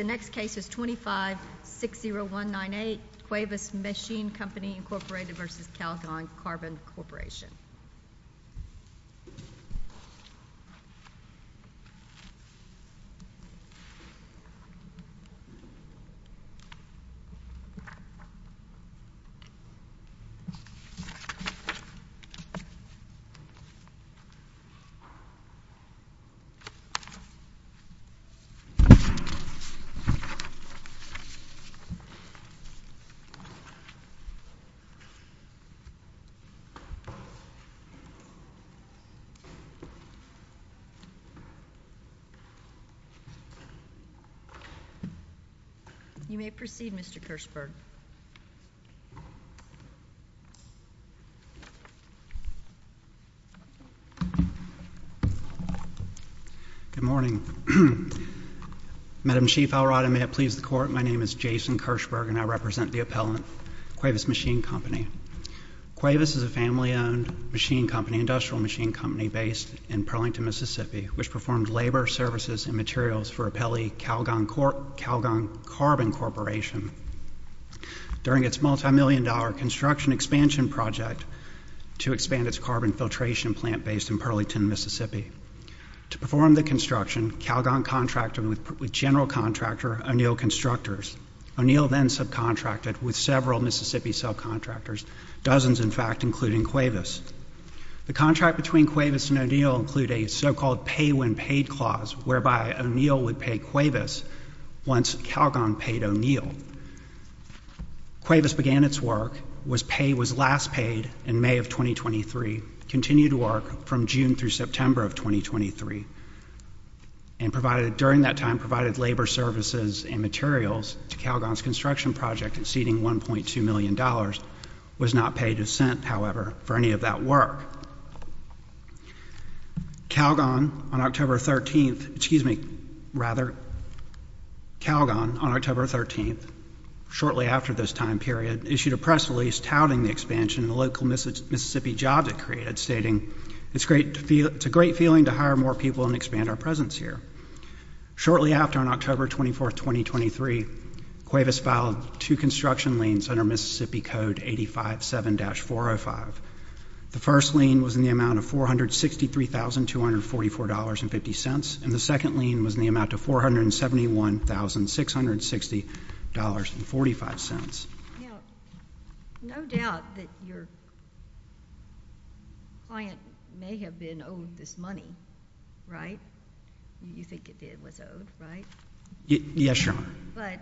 The next case is 2560198, Cuevas Machine Company, Inc. v. Calgon Carbon Corporation. You may proceed, Mr. Kirsberg. Good morning. Madam Chief Alright, and may it please the Court, my name is Jason Kirsberg, and I represent the appellant, Cuevas Machine Company. Cuevas is a family-owned industrial machine company based in Burlington, Mississippi, which performed labor, services, and materials for appellee Calgon Carbon Corporation during its multimillion-dollar construction expansion project to expand its carbon filtration plant based in Burlington, Mississippi. To perform the construction, Calgon contracted with general contractor O'Neill Constructors. O'Neill then subcontracted with several Mississippi subcontractors, dozens, in fact, including Cuevas. The contract between Cuevas and O'Neill included a so-called pay-when-paid clause whereby O'Neill would pay Cuevas once Calgon paid O'Neill. Cuevas began its work, was last paid in May of 2023, continued work from June through September of 2023, and during that time provided labor, services, and materials to Calgon's construction project exceeding $1.2 million dollars, was not paid a cent, however, for any of that work. Calgon on October 13th, excuse me, rather, Calgon on October 13th, shortly after this time period, issued a press release touting the expansion and the local Mississippi jobs it created, stating, it's a great feeling to hire more people and expand our presence here. Shortly after, on October 24th, 2023, Cuevas filed two construction liens under Mississippi Code 85-7-405. The first lien was in the amount of $463,244.50, and the second lien was in the amount of $471,660.45. Now, no doubt that your client may have been owed this money, right? You think it was owed, right? Yes, Your Honor. But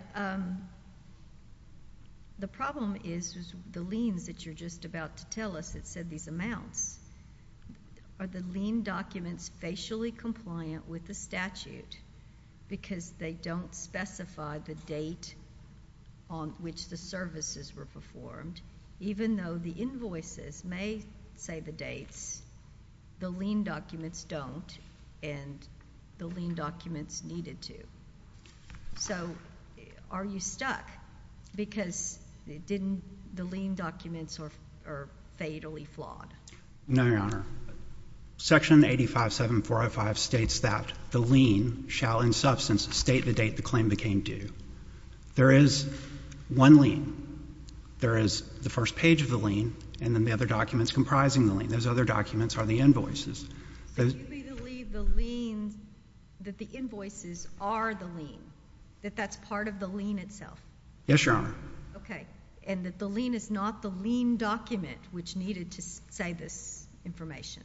the problem is the liens that you're just about to tell us that said these amounts, are the lien documents facially compliant with the statute because they don't specify the date on which the services were performed, even though the invoices may say the dates, the lien documents don't, and the lien documents needed to. So, are you stuck? Because the lien documents are fatally flawed. No, Your Honor. Section 85-7-405 states that the lien shall, in substance, state the date the claim became due. There is one lien. There is the first page of the lien, and then the other documents comprising the lien. Those other documents are the invoices. So, you believe the lien, that the invoices are the lien, that that's part of the lien itself? Yes, Your Honor. Okay. And that the lien is not the lien document which needed to say this information?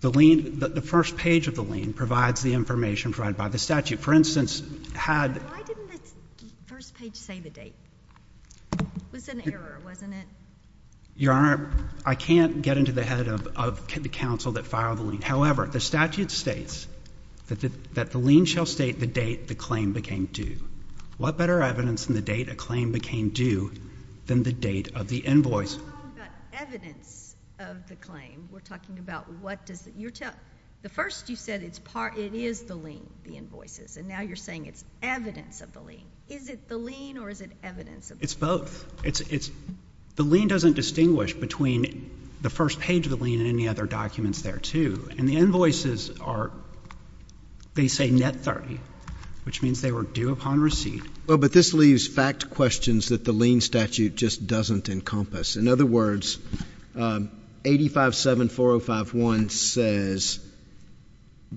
The first page of the lien provides the information provided by the statute. For instance, had— Why didn't the first page say the date? It was an error, wasn't it? Your Honor, I can't get into the head of the counsel that filed the lien. However, the statute states that the lien shall state the date the claim became due. What better evidence than the date a claim became due than the date of the invoice? We're talking about evidence of the claim. We're talking about what does— The first you said it is the lien, the invoices. And now you're saying it's evidence of the lien. Is it the lien or is it evidence of the lien? It's both. The lien doesn't distinguish between the first page of the lien and any other documents there, too. And the invoices are—they say net 30, which means they were due upon receipt. Well, but this leaves fact questions that the lien statute just doesn't encompass. In other words, 85-7405-1 says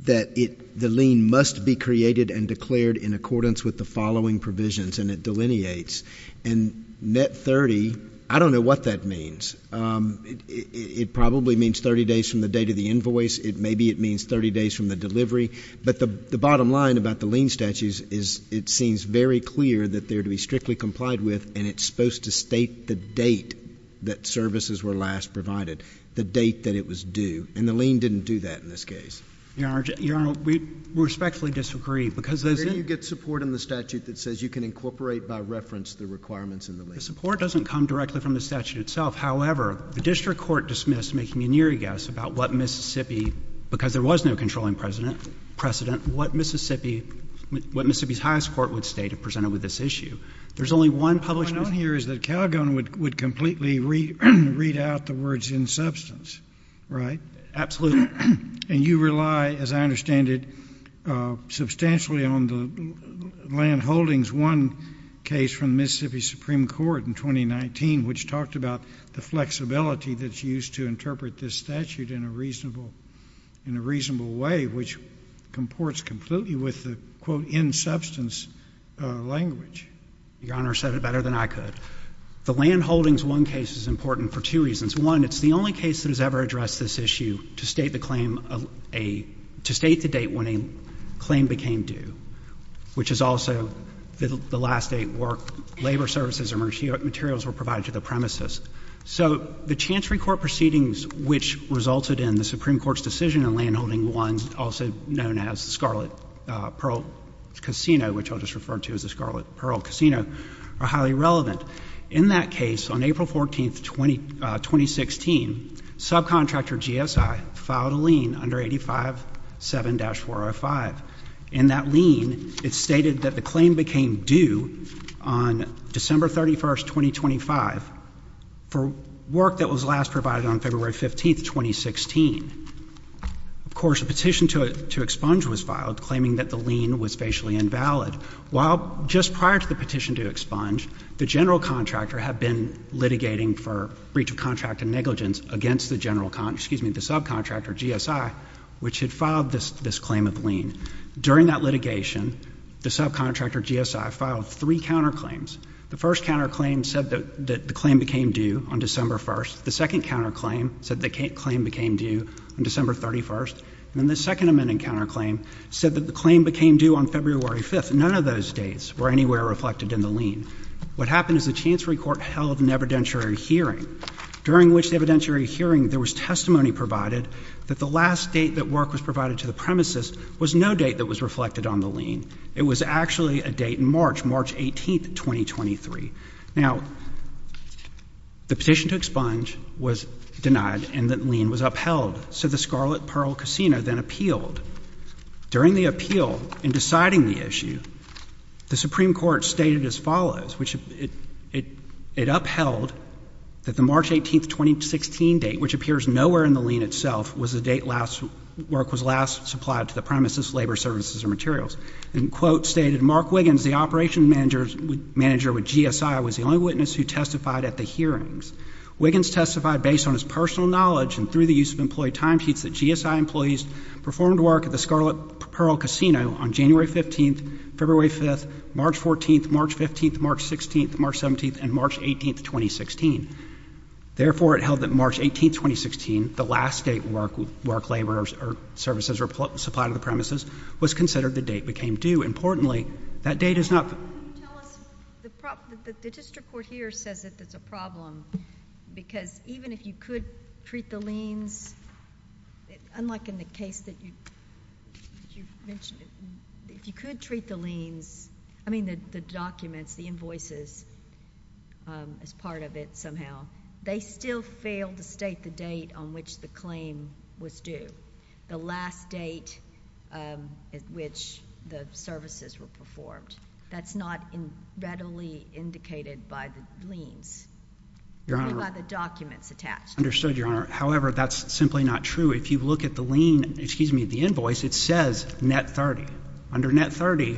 that the lien must be created and declared in accordance with the following provisions, and it delineates. And net 30, I don't know what that means. It probably means 30 days from the date of the invoice. Maybe it means 30 days from the delivery. But the bottom line about the lien statute is it seems very clear that they're to be strictly complied with and it's supposed to state the date that services were last provided, the date that it was due. And the lien didn't do that in this case. Your Honor, we respectfully disagree because— You get support in the statute that says you can incorporate by reference the requirements in the lien. The support doesn't come directly from the statute itself. However, the district court dismissed, making an eerie guess about what Mississippi, because there was no controlling precedent, what Mississippi's highest court would state if presented with this issue. There's only one published— What I know here is that Calgon would completely read out the words in substance, right? Absolutely. And you rely, as I understand it, substantially on the land holdings one case from the Mississippi Supreme Court in 2019, which talked about the flexibility that's used to interpret this statute in a reasonable way, which comports completely with the, quote, in substance language. Your Honor said it better than I could. The land holdings one case is important for two reasons. One, it's the only case that has ever addressed this issue to state the claim of a— to state the date when a claim became due, which is also the last date where labor services or materials were provided to the premises. So the Chancery Court proceedings which resulted in the Supreme Court's decision on landholding one, also known as the Scarlet Pearl Casino, which I'll just refer to as the Scarlet Pearl Casino, are highly relevant. In that case, on April 14, 2016, subcontractor GSI filed a lien under 85-7-405. In that lien, it stated that the claim became due on December 31, 2025 for work that was last provided on February 15, 2016. Of course, a petition to expunge was filed, claiming that the lien was facially invalid. Just prior to the petition to expunge, the general contractor had been litigating for breach of contract and negligence against the subcontractor, GSI, which had filed this claim of lien. During that litigation, the subcontractor, GSI, filed three counterclaims. The first counterclaim said that the claim became due on December 1. The second counterclaim said the claim became due on December 31. And the second amending counterclaim said that the claim became due on February 5. None of those dates were anywhere reflected in the lien. What happened is the Chancery Court held an evidentiary hearing, during which the evidentiary hearing, there was testimony provided that the last date that work was provided to the premises was no date that was reflected on the lien. It was actually a date in March, March 18, 2023. Now, the petition to expunge was denied and the lien was upheld. So the Scarlet Pearl Casino then appealed. During the appeal, in deciding the issue, the Supreme Court stated as follows, which it upheld that the March 18, 2016 date, which appears nowhere in the lien itself, was the date work was last supplied to the premises, labor services, or materials. And the quote stated, Mark Wiggins, the operations manager with GSI, was the only witness who testified at the hearings. Wiggins testified based on his personal knowledge and through the use of employee timesheets that GSI employees performed work at the Scarlet Pearl Casino on January 15th, February 5th, March 14th, March 15th, March 16th, March 17th, and March 18th, 2016. Therefore, it held that March 18, 2016, the last date work, labor services were supplied to the premises, was considered the date became due. Importantly, that date is not... Can you tell us... The district court here says that that's a problem because even if you could treat the liens, unlike in the case that you mentioned, if you could treat the liens, I mean the documents, the invoices, as part of it somehow, they still fail to state the date on which the claim was due, the last date at which the services were performed. That's not readily indicated by the liens. Your Honor... Or by the documents attached. Understood, Your Honor. However, that's simply not true. If you look at the lien, excuse me, the invoice, it says net 30. Under net 30,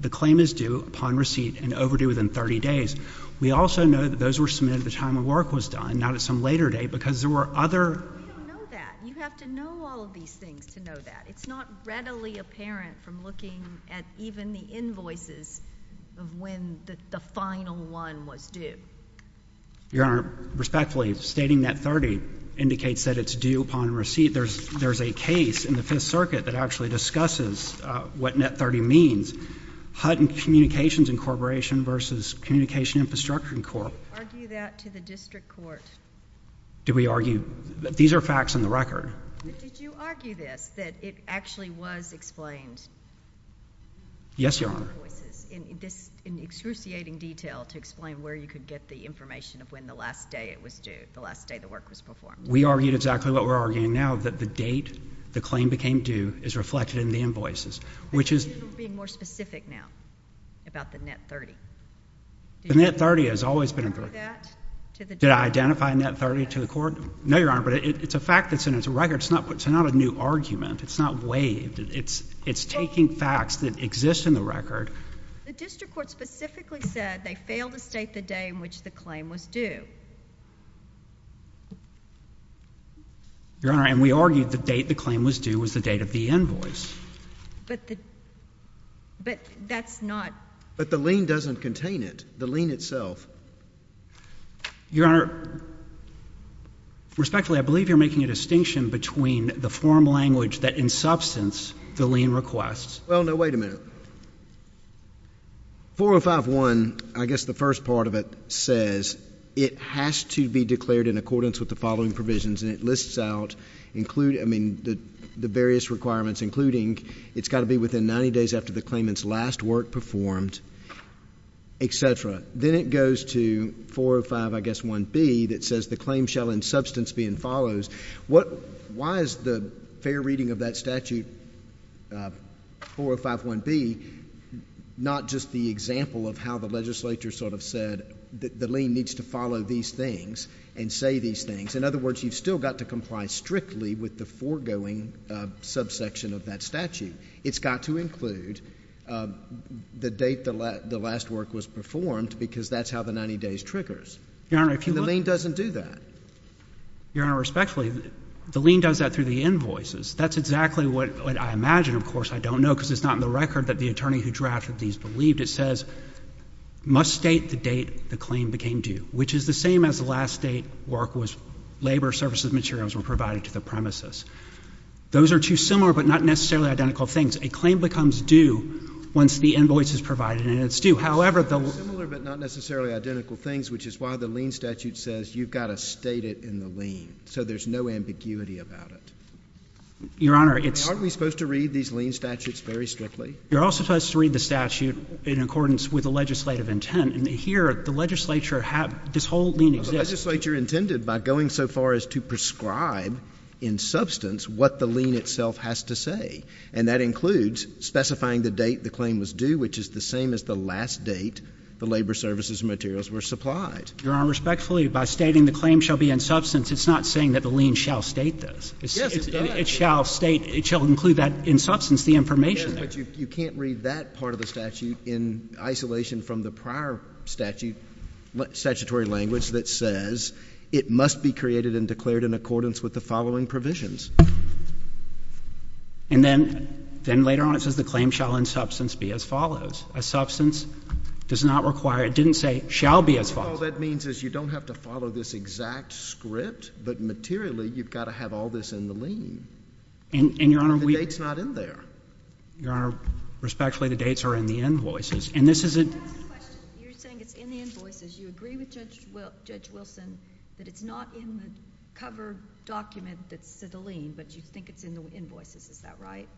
the claim is due upon receipt and overdue within 30 days. We also know that those were submitted at the time the work was done, not at some later date because there were other... We don't know that. You have to know all of these things to know that. It's not readily apparent from looking at even the invoices of when the final one was due. Your Honor, respectfully, stating net 30 indicates that it's due upon receipt. There's a case in the Fifth Circuit that actually discusses what net 30 means. Hutton Communications Incorporation versus Communication Infrastructure Corp... Argue that to the district court. Do we argue... These are facts on the record. Did you argue this, that it actually was explained... Yes, Your Honor.... in excruciating detail to explain where you could get the information of when the last day it was due, the last day the work was performed? We argued exactly what we're arguing now, that the date the claim became due is reflected in the invoices, which is... But you're being more specific now about the net 30. The net 30 has always been a... Did I identify net 30 to the court? No, Your Honor, but it's a fact that's in its writing It's not a new argument. It's not waived. It's taking facts that exist in the record. The district court specifically said they failed to state the day in which the claim was due. Your Honor, and we argued the date the claim was due was the date of the invoice. But that's not... But the lien doesn't contain it. The lien itself. Your Honor, respectfully, I believe you're making a distinction, between the form language that in substance the lien requests... Well, no, wait a minute. 405.1, I guess the first part of it says it has to be declared in accordance with the following provisions, and it lists out the various requirements, including it's got to be within 90 days after the claimant's last work performed, etc. Then it goes to 405, I guess, 1B that says the claim shall in substance be in follows. Why is the fair reading of that statute, 405.1B, not just the example of how the legislature sort of said the lien needs to follow these things and say these things? In other words, you've still got to comply strictly with the foregoing subsection of that statute. It's got to include the date the last work was performed because that's how the 90 days triggers. Your Honor, if you look... And the lien doesn't do that. Your Honor, respectfully, the lien does that through the invoices. That's exactly what I imagine. Of course, I don't know because it's not in the record that the attorney who drafted these believed. It says, must state the date the claim became due, which is the same as the last date labor services materials were provided to the premises. Those are two similar but not necessarily identical things. A claim becomes due once the invoice is provided and it's due. Similar but not necessarily identical things, which is why the lien statute says you've got to state it in the lien so there's no ambiguity about it. Your Honor, it's... Aren't we supposed to read these lien statutes very strictly? You're also supposed to read the statute in accordance with the legislative intent. Here, the legislature... This whole lien exists... The legislature intended by going so far as to prescribe in substance what the lien itself has to say. And that includes specifying the date the claim was due, which is the same as the last date the labor services materials were supplied. Your Honor, respectfully, by stating the claim shall be in substance, it's not saying that the lien shall state this. Yes, it does. It shall include that in substance, the information there. Yes, but you can't read that part of the statute in isolation from the prior statutory language that says it must be created and declared in accordance with the following provisions. And then later on it says the claim shall in substance be as follows. A substance does not require... It didn't say shall be as follows. All that means is you don't have to follow this exact script, but materially you've got to have all this in the lien. And, Your Honor, we... The date's not in there. Your Honor, respectfully, the dates are in the invoices. And this is a... I have a question. You're saying it's in the invoices. You agree with Judge Wilson that it's not in the cover document that said the lien, but you think it's in the invoices. Is that right?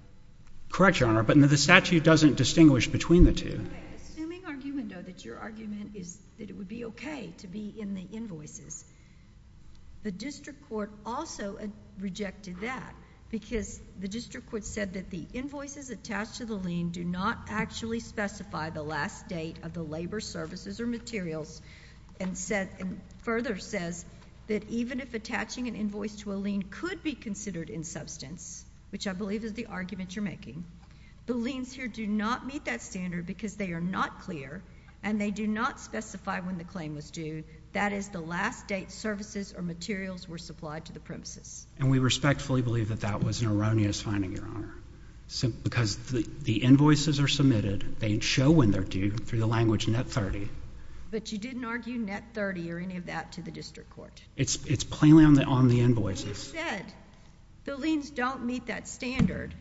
Correct, Your Honor, but the statute doesn't distinguish between the two. Okay. Assuming, argument, though, that your argument is that it would be okay to be in the invoices. The district court also rejected that because the district court said that the invoices attached to the lien do not actually specify the last date of the labor, services, or materials and further says that even if attaching an invoice to a lien could be considered in substance, which I believe is the argument you're making, the liens here do not meet that standard because they are not clear and they do not specify when the claim was due. That is the last date services or materials were supplied to the premises. And we respectfully believe that that was an erroneous finding, Your Honor, because the invoices are submitted. They show when they're due through the language net 30. But you didn't argue net 30 or any of that to the district court. It's plainly on the invoices. You said the liens don't meet that standard.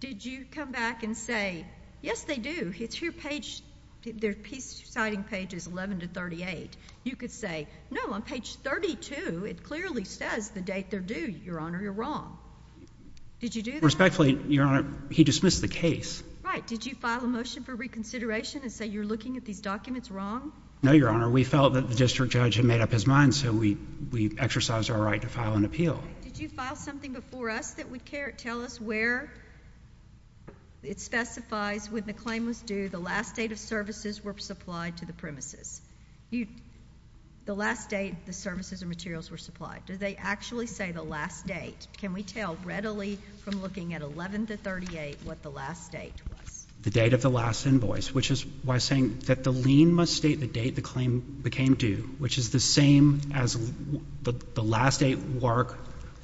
Did you come back and say, Yes, they do. It's your page. Their peace-citing page is 11 to 38. You could say, No, on page 32, it clearly says the date they're due. Your Honor, you're wrong. Did you do that? Respectfully, Your Honor, he dismissed the case. Right. Did you file a motion for reconsideration and say you're looking at these documents wrong? No, Your Honor. We felt that the district judge had made up his mind, so we exercised our right to file an appeal. Did you file something before us that would tell us where it specifies when the claim was due, the last date of services were supplied to the premises? The last date the services and materials were supplied. Do they actually say the last date? Can we tell readily from looking at 11 to 38 what the last date was? The date of the last invoice, which is why I'm saying that the lien must state the date the claim became due, which is the same as the last date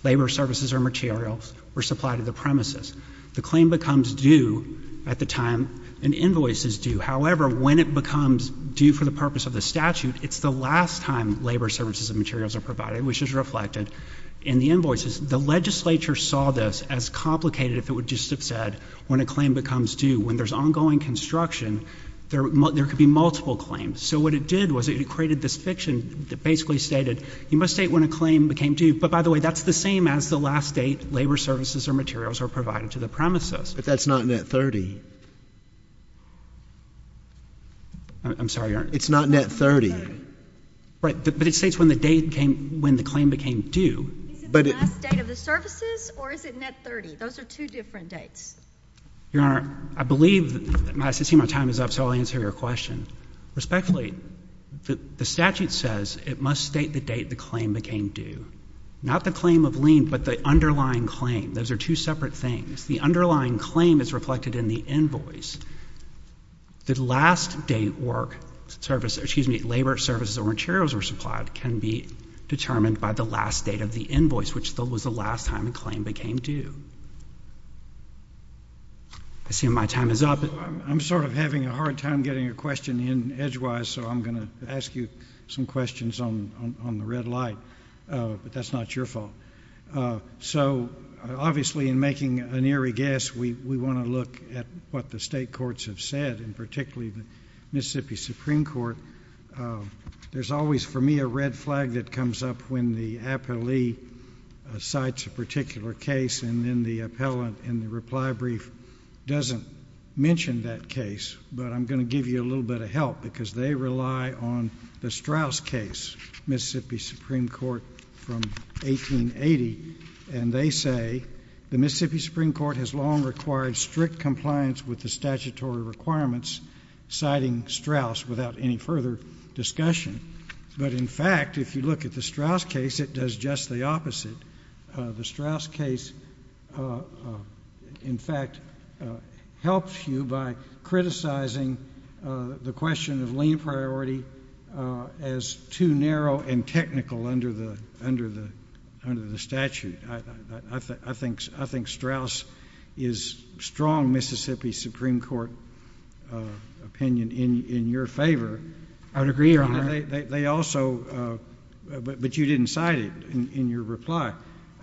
labor services or materials were supplied to the premises. The claim becomes due at the time an invoice is due. However, when it becomes due for the purpose of the statute, it's the last time labor services and materials are provided, which is reflected in the invoices. The legislature saw this as complicated if it would just have said when a claim becomes due. When there's ongoing construction, there could be multiple claims. So what it did was it created this fiction that basically stated you must state when a claim became due, but by the way, that's the same as the last date labor services or materials are provided to the premises. But that's not net 30. I'm sorry, Your Honor. It's not net 30. Right, but it states when the claim became due. Is it the last date of the services, or is it net 30? Those are two different dates. Your Honor, I believe my time is up, so I'll answer your question. Respectfully, the statute says it must state the date the claim became due. Not the claim of lien, but the underlying claim. Those are two separate things. The underlying claim is reflected in the invoice. The last date labor services or materials were supplied can be determined by the last date of the invoice, which was the last time a claim became due. I see my time is up. I'm sort of having a hard time getting a question in edgewise, so I'm going to ask you some questions on the red light. But that's not your fault. So, obviously, in making an eerie guess, we want to look at what the state courts have said, and particularly the Mississippi Supreme Court. There's always, for me, a red flag that comes up when the appellee cites a particular case and then the appellant in the reply brief doesn't mention that case. But I'm going to give you a little bit of help because they rely on the Straus case, Mississippi Supreme Court from 1880, and they say the Mississippi Supreme Court has long required strict compliance with the statutory requirements, citing Straus without any further discussion. But, in fact, if you look at the Straus case, it does just the opposite. The Straus case, in fact, helps you by criticizing the question of lien priority as too narrow and technical under the statute. I think Straus is strong Mississippi Supreme Court opinion in your favor. I would agree, Your Honor. They also... But you didn't cite it in your reply,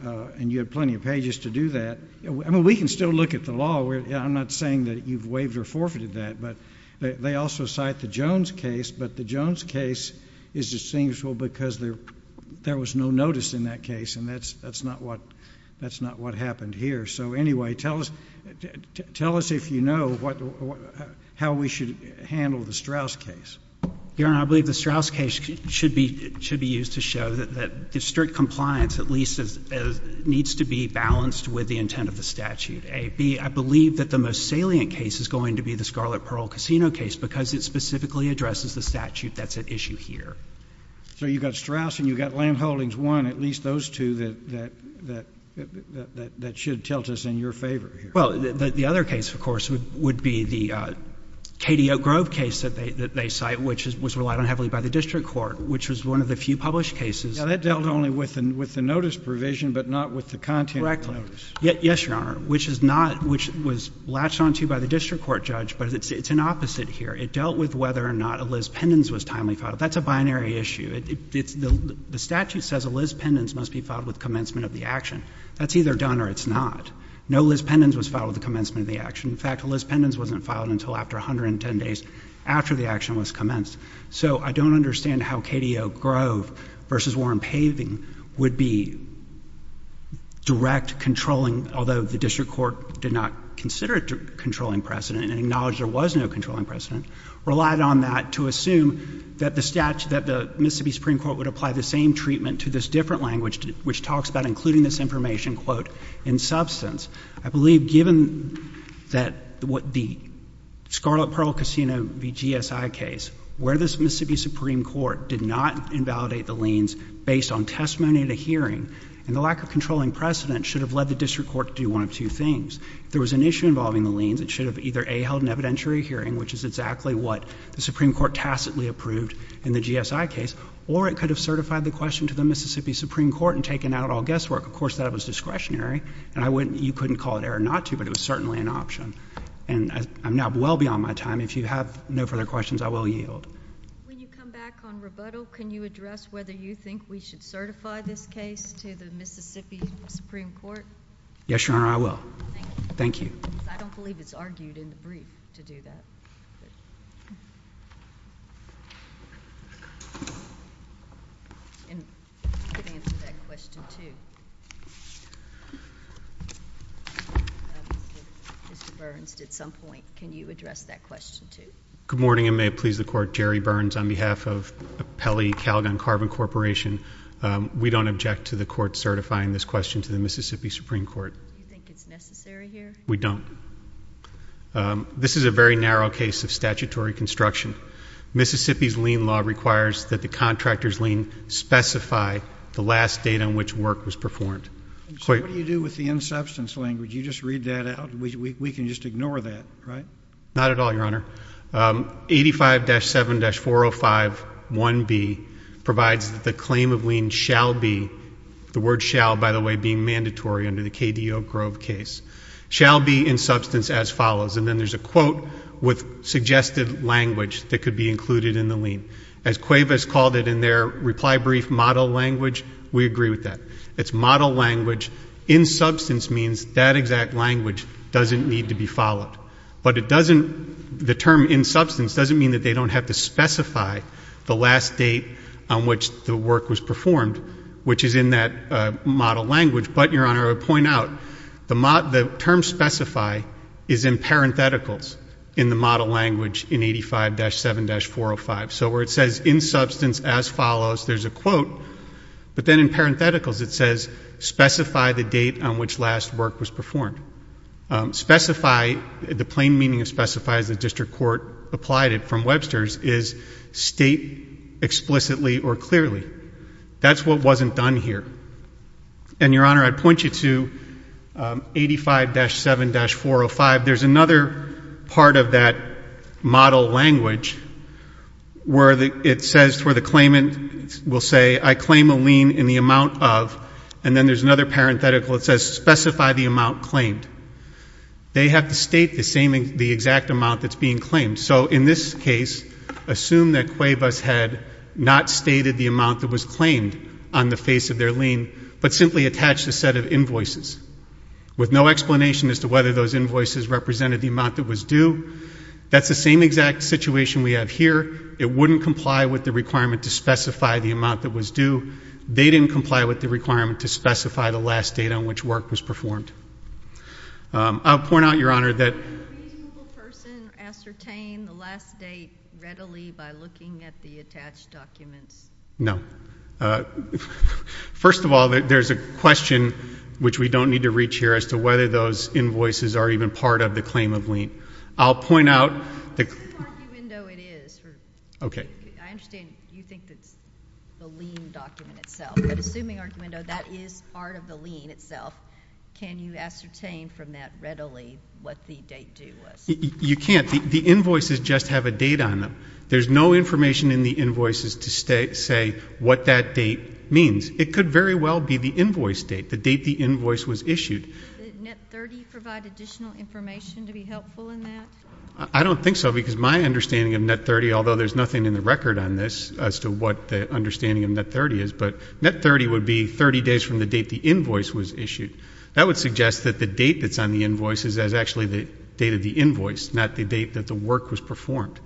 and you had plenty of pages to do that. I mean, we can still look at the law. I'm not saying that you've waived or forfeited that, but they also cite the Jones case, but the Jones case is distinguished because there was no notice in that case, and that's not what happened here. So, anyway, tell us if you know how we should handle the Straus case. Your Honor, I believe the Straus case should be used to show that strict compliance, at least, needs to be balanced with the intent of the statute, A. B, I believe that the most salient case is going to be the Scarlet Pearl Casino case because it specifically addresses the statute that's at issue here. So you've got Straus and you've got Lamb Holdings 1, at least those two that should tilt us in your favor here. Well, the other case, of course, would be the Katie Oak Grove case that they cite, which was relied on heavily by the district court, which was one of the few published cases... Yeah, that dealt only with the notice provision, but not with the content of the notice. Correctly. Yes, Your Honor, which is not... which was latched onto by the district court judge, but it's an opposite here. It dealt with whether or not a Liz Pendens was timely filed. That's a binary issue. The statute says a Liz Pendens must be filed with commencement of the action. That's either done or it's not. No Liz Pendens was filed with the commencement of the action. In fact, a Liz Pendens wasn't filed until after 110 days after the action was commenced. So I don't understand how Katie Oak Grove v. Warren Paving would be direct controlling, although the district court did not consider it a controlling precedent and acknowledged there was no controlling precedent, relied on that to assume that the Mississippi Supreme Court would apply the same treatment to this different language, which talks about including this information, quote, in substance. I believe given that the Scarlet Pearl Casino v. GSI case where the Mississippi Supreme Court did not invalidate the liens based on testimony at a hearing and the lack of controlling precedent should have led the district court to do one of two things. If there was an issue involving the liens, it should have either, A, held an evidentiary hearing, which is exactly what the Supreme Court tacitly approved in the GSI case, or it could have certified the question to the Mississippi Supreme Court and taken out all guesswork. Of course, that was discretionary, and you couldn't call it error not to, but it was certainly an option. And I'm now well beyond my time. If you have no further questions, I will yield. When you come back on rebuttal, can you address whether you think we should certify this case to the Mississippi Supreme Court? Yes, Your Honor, I will. Thank you. I don't believe it's argued in the brief to do that. And you could answer that question, too. Mr. Burns did some point. Can you address that question, too? Good morning, and may it please the Court. Jerry Burns on behalf of Pele Calgon Carbon Corporation. We don't object to the Court certifying this question to the Mississippi Supreme Court. Do you think it's necessary here? We don't. This is a very narrow case of statutory construction. Mississippi's lien law requires that the contractor's lien specify the last date on which work was performed. So what do you do with the in-substance language? You just read that out? We can just ignore that, right? Not at all, Your Honor. 85-7-405-1B provides that the claim of lien shall be the word shall, by the way, being mandatory under the KDO Grove case, shall be in substance as follows. And then there's a quote with suggested language that could be included in the lien. As Cuevas called it in their reply brief model language, we agree with that. It's model language. In substance means that exact language doesn't need to be followed. But the term in substance doesn't mean that they don't have to specify the last date on which the work was performed, which is in that model language. But, Your Honor, I would point out, the term specify is in parentheticals in the model language in 85-7-405. So where it says in substance as follows, there's a quote, but then in parentheticals it says, specify the date on which last work was performed. Specify, the plain meaning of specify, as the district court applied it from Webster's, is state explicitly or clearly. That's what wasn't done here. And, Your Honor, I'd point you to 85-7-405. There's another part of that model language where it says, that's where the claimant will say, I claim a lien in the amount of, and then there's another parenthetical that says, specify the amount claimed. They have to state the exact amount that's being claimed. So in this case, assume that CUEVAS had not stated the amount that was claimed on the face of their lien, but simply attached a set of invoices with no explanation as to whether those invoices represented the amount that was due. That's the same exact situation we have here. It wouldn't comply with the requirement to specify the amount that was due. They didn't comply with the requirement to specify the last date on which work was performed. I'll point out, Your Honor, that... Can a reasonable person ascertain the last date readily by looking at the attached documents? No. First of all, there's a question, which we don't need to reach here, as to whether those invoices are even part of the claim of lien. I'll point out... Assuming arguendo it is. Okay. I understand you think it's the lien document itself. But assuming arguendo that is part of the lien itself, can you ascertain from that readily what the date due was? You can't. The invoices just have a date on them. There's no information in the invoices to say what that date means. It could very well be the invoice date, the date the invoice was issued. Did NET-30 provide additional information to be helpful in that? I don't think so, because my understanding of NET-30, although there's nothing in the record on this as to what the understanding of NET-30 is, but NET-30 would be 30 days from the date the invoice was issued. That would suggest that the date that's on the invoice is actually the date of the invoice, not the date that the work was performed.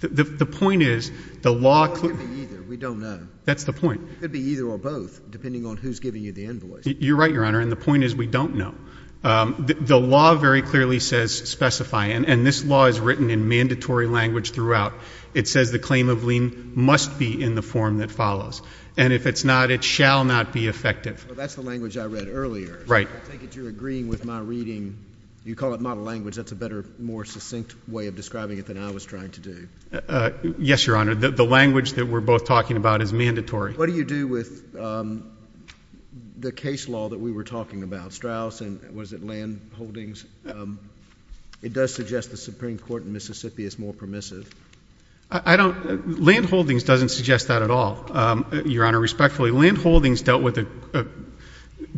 The point is, the law... It could be either. We don't know. That's the point. It could be either or both, depending on who's giving you the invoice. You're right, Your Honor, and the point is we don't know. The law very clearly says specify, and this law is written in mandatory language throughout. It says the claim of lien must be in the form that follows, and if it's not, it shall not be effective. Well, that's the language I read earlier. Right. I take it you're agreeing with my reading. You call it model language. That's a better, more succinct way of describing it than I was trying to do. Yes, Your Honor. The language that we're both talking about is mandatory. What do you do with the case law that we were talking about? Straus and was it Landholdings? It does suggest the Supreme Court in Mississippi is more permissive. I don't... Landholdings doesn't suggest that at all, Your Honor, respectfully. Landholdings dealt with a...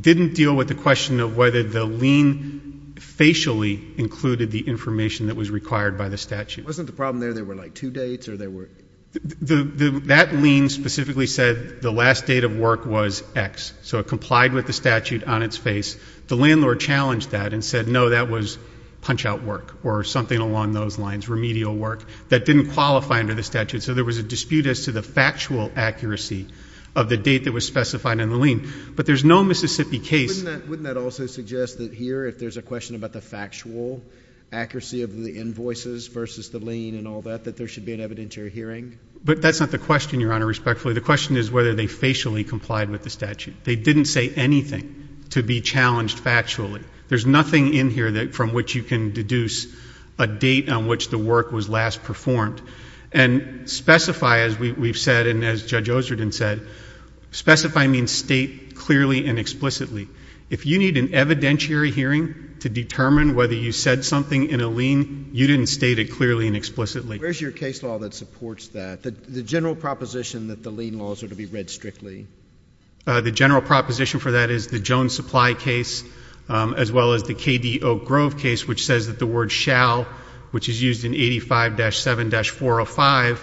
didn't deal with the question of whether the lien facially included the information that was required by the statute. Wasn't the problem there there were, like, two dates or there were... That lien specifically said the last date of work was X, so it complied with the statute on its face. The landlord challenged that and said, no, that was punch-out work or something along those lines, remedial work. That didn't qualify under the statute, so there was a dispute as to the factual accuracy of the date that was specified in the lien. But there's no Mississippi case... Wouldn't that also suggest that here, if there's a question about the factual accuracy of the invoices versus the lien and all that, that there should be an evidentiary hearing? But that's not the question, Your Honor, respectfully. The question is whether they facially complied with the statute. They didn't say anything to be challenged factually. There's nothing in here from which you can deduce a date on which the work was last performed. And specify, as we've said and as Judge Osreden said, specify means state clearly and explicitly. If you need an evidentiary hearing to determine whether you said something in a lien, you didn't state it clearly and explicitly. Where's your case law that supports that? The general proposition that the lien laws are to be read strictly? The general proposition for that is the Jones Supply case as well as the K.D. Oak Grove case, which says that the word shall, which is used in 85-7-405,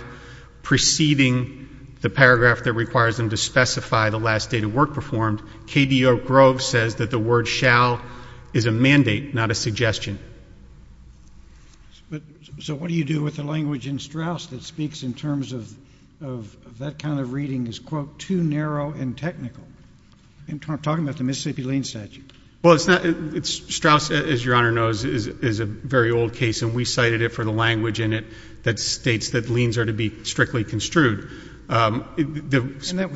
preceding the paragraph that requires them to specify the last date of work performed, K.D. Oak Grove says that the word shall is a mandate, not a suggestion. So what do you do with the language in Straus that speaks in terms of that kind of reading as, quote, too narrow and technical? I'm talking about the Mississippi lien statute. Well, Straus, as Your Honor knows, is a very old case, and we cited it for the language in it that states that liens are to be strictly construed. And that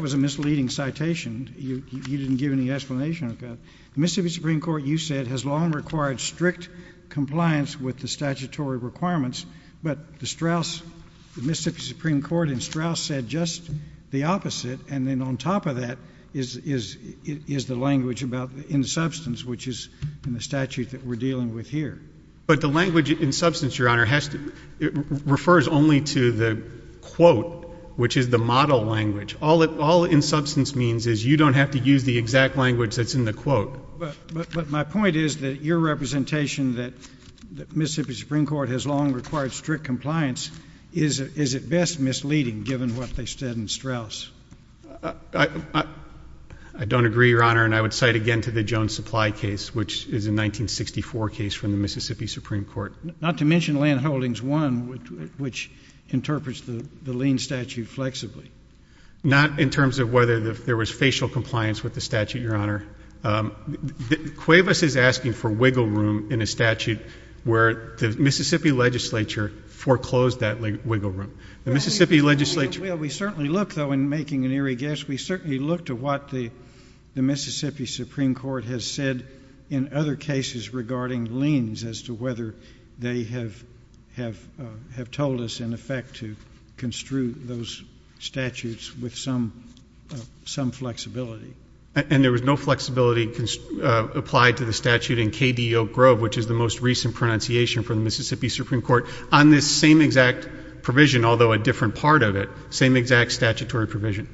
was a misleading citation. You didn't give any explanation. The Mississippi Supreme Court, you said, has long required strict compliance with the statutory requirements, but the Straus, the Mississippi Supreme Court in Straus, said just the opposite, and then on top of that is the language in substance, which is in the statute that we're dealing with here. But the language in substance, Your Honor, refers only to the quote, which is the model language. All in substance means is you don't have to use the exact language that's in the quote. But my point is that your representation that the Mississippi Supreme Court has long required strict compliance is at best misleading, given what they said in Straus. I don't agree, Your Honor, and I would cite again to the Jones Supply case, which is a 1964 case from the Mississippi Supreme Court. Not to mention Landholdings 1, which interprets the lien statute flexibly. Not in terms of whether there was facial compliance with the statute, Your Honor. Cuevas is asking for wiggle room in a statute where the Mississippi legislature foreclosed that wiggle room. The Mississippi legislature... Well, we certainly look, though, in making an eerie guess, we certainly look to what the Mississippi Supreme Court has said in other cases regarding liens as to whether they have told us, in effect, to construe those statutes with some flexibility. And there was no flexibility applied to the statute in K.D. Oak Grove, which is the most recent pronunciation from the Mississippi Supreme Court, on this same exact provision, although a different part of it. Same exact statutory provision.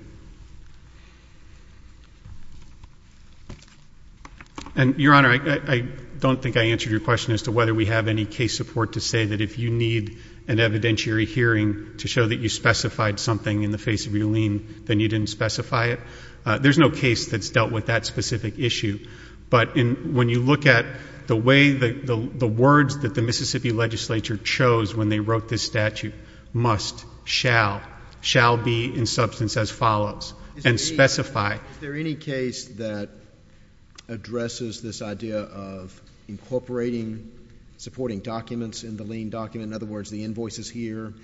And, Your Honor, I don't think I answered your question as to whether we have any case support to say that if you need an evidentiary hearing to show that you specified something in the face of your lien, then you didn't specify it. There's no case that's dealt with that specific issue. But when you look at the way the words that the Mississippi legislature chose when they wrote this statute, must, shall, shall be in substance as follows, and specify... Is there any case that addresses this idea of incorporating supporting documents in the lien document? In other words, the invoices here,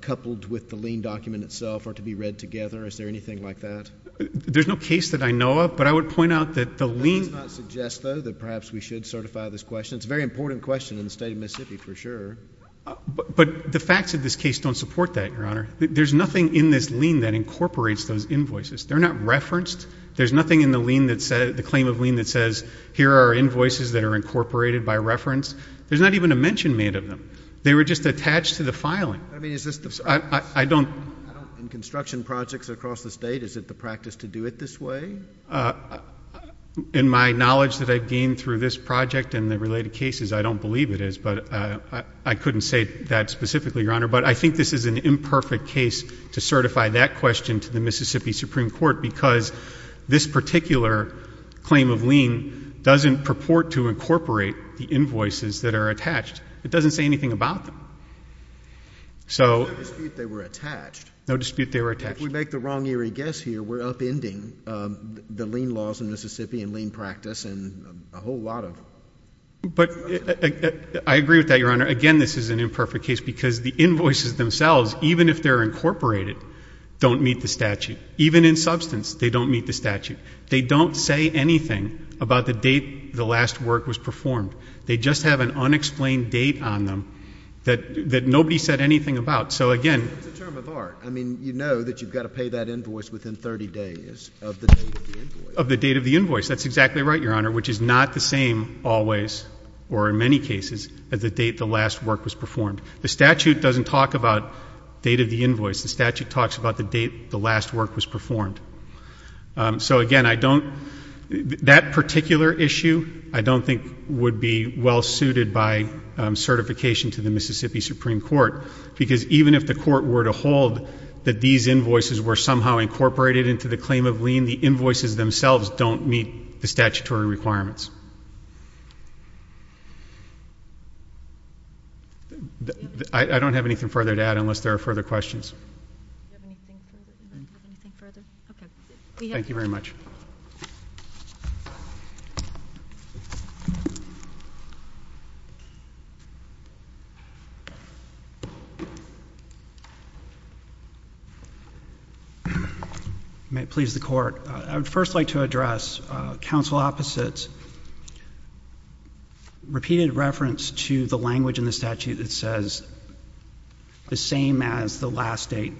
coupled with the lien document itself, are to be read together? Your Honor, is there anything like that? There's no case that I know of, but I would point out that the lien... That does not suggest, though, that perhaps we should certify this question. It's a very important question in the state of Mississippi, for sure. But the facts of this case don't support that, Your Honor. There's nothing in this lien that incorporates those invoices. They're not referenced. There's nothing in the claim of lien that says, here are invoices that are incorporated by reference. There's not even a mention made of them. They were just attached to the filing. I don't... In construction projects across the state, is it the practice to do it this way? In my knowledge that I've gained through this project and the related cases, I don't believe it is. But I couldn't say that specifically, Your Honor. But I think this is an imperfect case to certify that question to the Mississippi Supreme Court because this particular claim of lien doesn't purport to incorporate the invoices that are attached. It doesn't say anything about them. So... No dispute they were attached. No dispute they were attached. If we make the wrong eerie guess here, we're upending the lien laws in Mississippi and lien practice and a whole lot of... But I agree with that, Your Honor. Again, this is an imperfect case because the invoices themselves, even if they're incorporated, don't meet the statute. Even in substance, they don't meet the statute. They don't say anything about the date the last work was performed. They just have an unexplained date on them that nobody said anything about. So, again... It's a term of art. I mean, you know that you've got to pay that invoice within 30 days of the date of the invoice. Of the date of the invoice. That's exactly right, Your Honor, which is not the same always or in many cases as the date the last work was performed. The statute doesn't talk about date of the invoice. The statute talks about the date the last work was performed. So, again, I don't... That particular issue I don't think would be well suited by certification to the Mississippi Supreme Court because even if the court were to hold that these invoices were somehow incorporated into the claim of lien, the invoices themselves don't meet the statutory requirements. I don't have anything further to add unless there are further questions. Thank you very much. May it please the Court. I would first like to address counsel Opposite's repeated reference to the language in the statute that says the same as the last date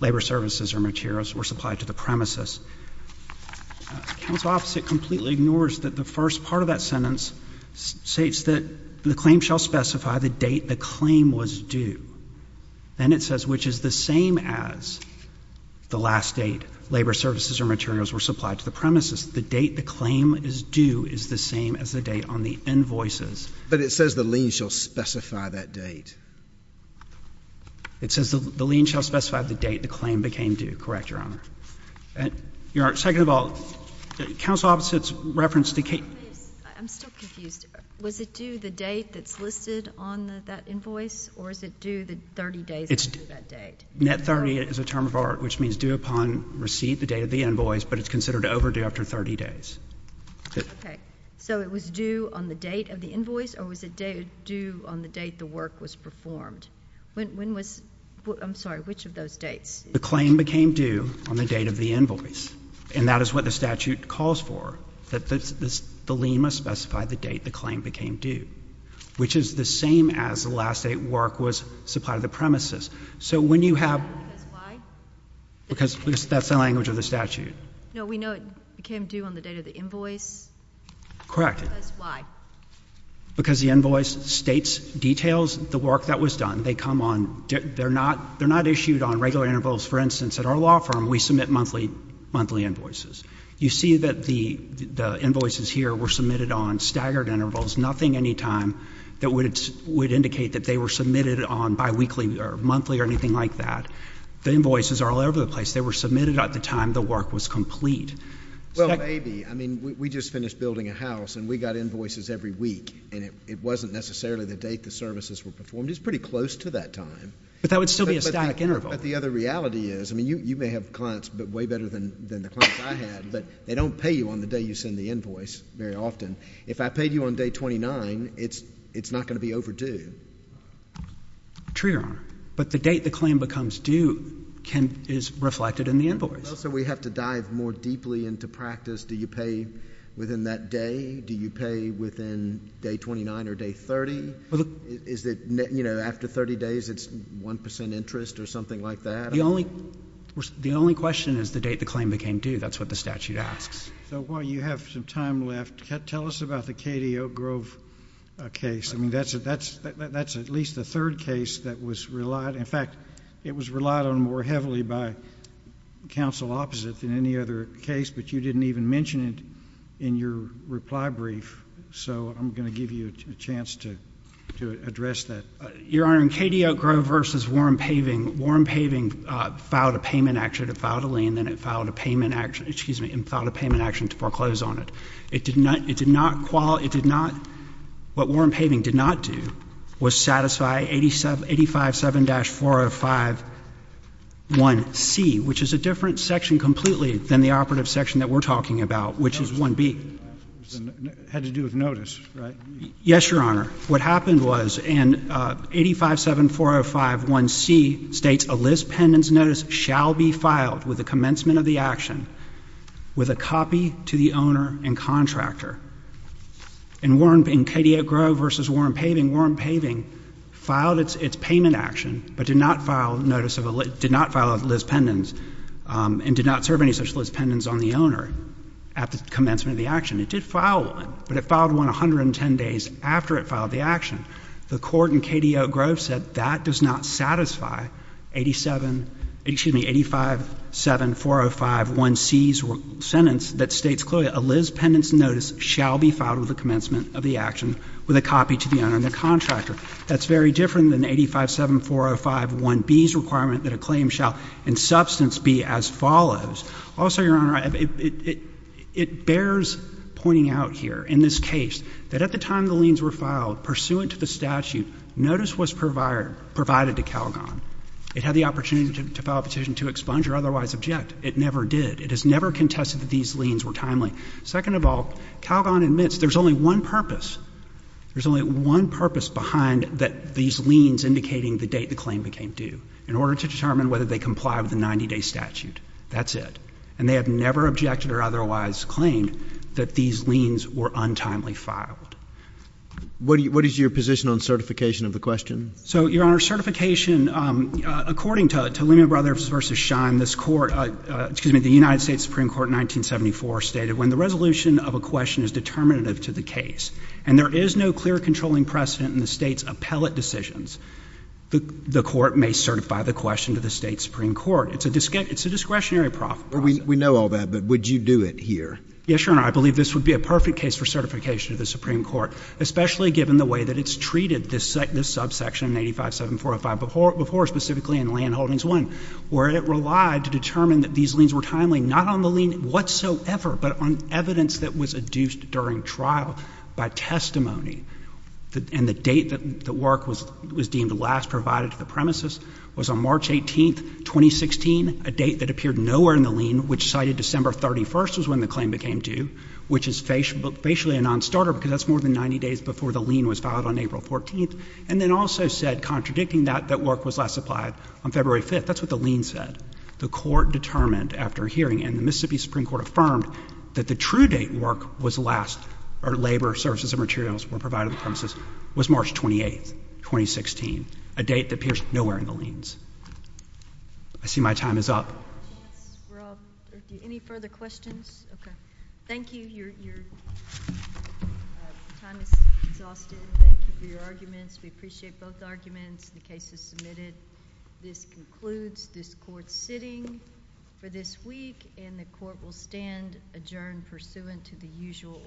labor services or materials were supplied to the premises. Counsel Opposite completely ignores that the first part of that sentence states that the claim shall specify the date the claim was due. Then it says which is the same as the last date labor services or materials were supplied to the premises. The date the claim is due is the same as the date on the invoices. But it says the lien shall specify that date. It says the lien shall specify the date the claim became due. Correct, Your Honor. Your Honor, second of all, counsel Opposite's reference to... I'm still confused. Was it due the date that's listed on that invoice or is it due the 30 days after that date? Net 30 is a term of art which means due upon receipt, the date of the invoice, but it's considered overdue after 30 days. Okay. So it was due on the date of the invoice or was it due on the date the work was performed? When was... I'm sorry, which of those dates? The claim became due on the date of the invoice, and that is what the statute calls for, that the lien must specify the date the claim became due, which is the same as the last date work was supplied to the premises. So when you have... Because why? Because that's the language of the statute. No, we know it became due on the date of the invoice. Correct. Because why? Because the invoice states, details the work that was done. They come on... They're not issued on regular intervals. For instance, at our law firm, we submit monthly invoices. You see that the invoices here were submitted on staggered intervals, nothing anytime that would indicate that they were submitted on biweekly or monthly or anything like that. The invoices are all over the place. They were submitted at the time the work was complete. Well, maybe. I mean, we just finished building a house, and we got invoices every week, and it wasn't necessarily the date the services were performed. It was pretty close to that time. But that would still be a stag interval. But the other reality is, I mean, you may have clients way better than the clients I had, but they don't pay you on the day you send the invoice very often. If I paid you on day 29, it's not going to be overdue. True, Your Honor. But the date the claim becomes due is reflected in the invoice. So we have to dive more deeply into practice. Do you pay within that day? Do you pay within day 29 or day 30? Is it, you know, after 30 days, it's 1% interest or something like that? The only question is the date the claim became due. That's what the statute asks. So while you have some time left, tell us about the Katie Oak Grove case. I mean, that's at least the third case that was relied... In fact, it was relied on more heavily by counsel opposite than any other case, but you didn't even mention it in your reply brief. So I'm going to give you a chance to address that. Your Honor, in Katie Oak Grove v. Warren Paving, Warren Paving filed a payment action to file a lien, then it filed a payment action to foreclose on it. It did not... What Warren Paving did not do was satisfy 857-405-1C, which is a different section completely than the operative section that we're talking about, which is 1B. It had to do with notice, right? Yes, Your Honor. What happened was in 857-405-1C states, a Liz Pendens notice shall be filed with the commencement of the action with a copy to the owner and contractor. In Katie Oak Grove v. Warren Paving, Warren Paving filed its payment action, but did not file notice of a — did not file a Liz Pendens and did not serve any such Liz Pendens on the owner at the commencement of the action. It did file one, but it filed one 110 days after it filed the action. The court in Katie Oak Grove said that does not satisfy 87 — excuse me, 857-405-1C's sentence that states clearly, a Liz Pendens notice shall be filed with the commencement of the action with a copy to the owner and the contractor. That's very different than 857-405-1B's requirement that a claim shall in substance be as follows. Also, Your Honor, it bears pointing out here in this case that at the time the liens were filed, pursuant to the statute, notice was provided to Calgon. It had the opportunity to file a petition to expunge or otherwise object. It never did. It has never contested that these liens were timely. Second of all, Calgon admits there's only one purpose. There's only one purpose behind these liens indicating the date the claim became due in order to determine whether they comply with the 90-day statute. That's it. And they have never objected or otherwise claimed that these liens were untimely filed. What is your position on certification of the question? So, Your Honor, certification, according to Lehman Brothers v. Schein, this court — excuse me, the United States Supreme Court in 1974 stated when the resolution of a question is determinative to the case and there is no clear controlling precedent in the state's appellate decisions, the court may certify the question to the state's Supreme Court. It's a discretionary process. We know all that, but would you do it here? Yes, Your Honor. I believe this would be a perfect case for certification to the Supreme Court, especially given the way that it's treated this subsection in 85-7405 before, specifically in Landholdings I, where it relied to determine that these liens were timely, not on the lien whatsoever, but on evidence that was adduced during trial by testimony. And the date that the work was deemed last provided to the premises was on March 18th, 2016, a date that appeared nowhere in the lien, which cited December 31st was when the claim became due, which is facially a nonstarter because that's more than 90 days before the lien was filed on April 14th, and then also said, contradicting that, that work was last applied on February 5th. That's what the lien said. The court determined after hearing, and the Mississippi Supreme Court affirmed, that the true date work was last, or labor, services, and materials were provided to the premises, was March 28th, 2016, a date that appears nowhere in the liens. I see my time is up. Any further questions? Okay. Thank you. Your time is exhausted. Thank you for your arguments. We appreciate both arguments. The case is submitted. This concludes this court sitting for this week, and the court will stand adjourned pursuant to the usual order.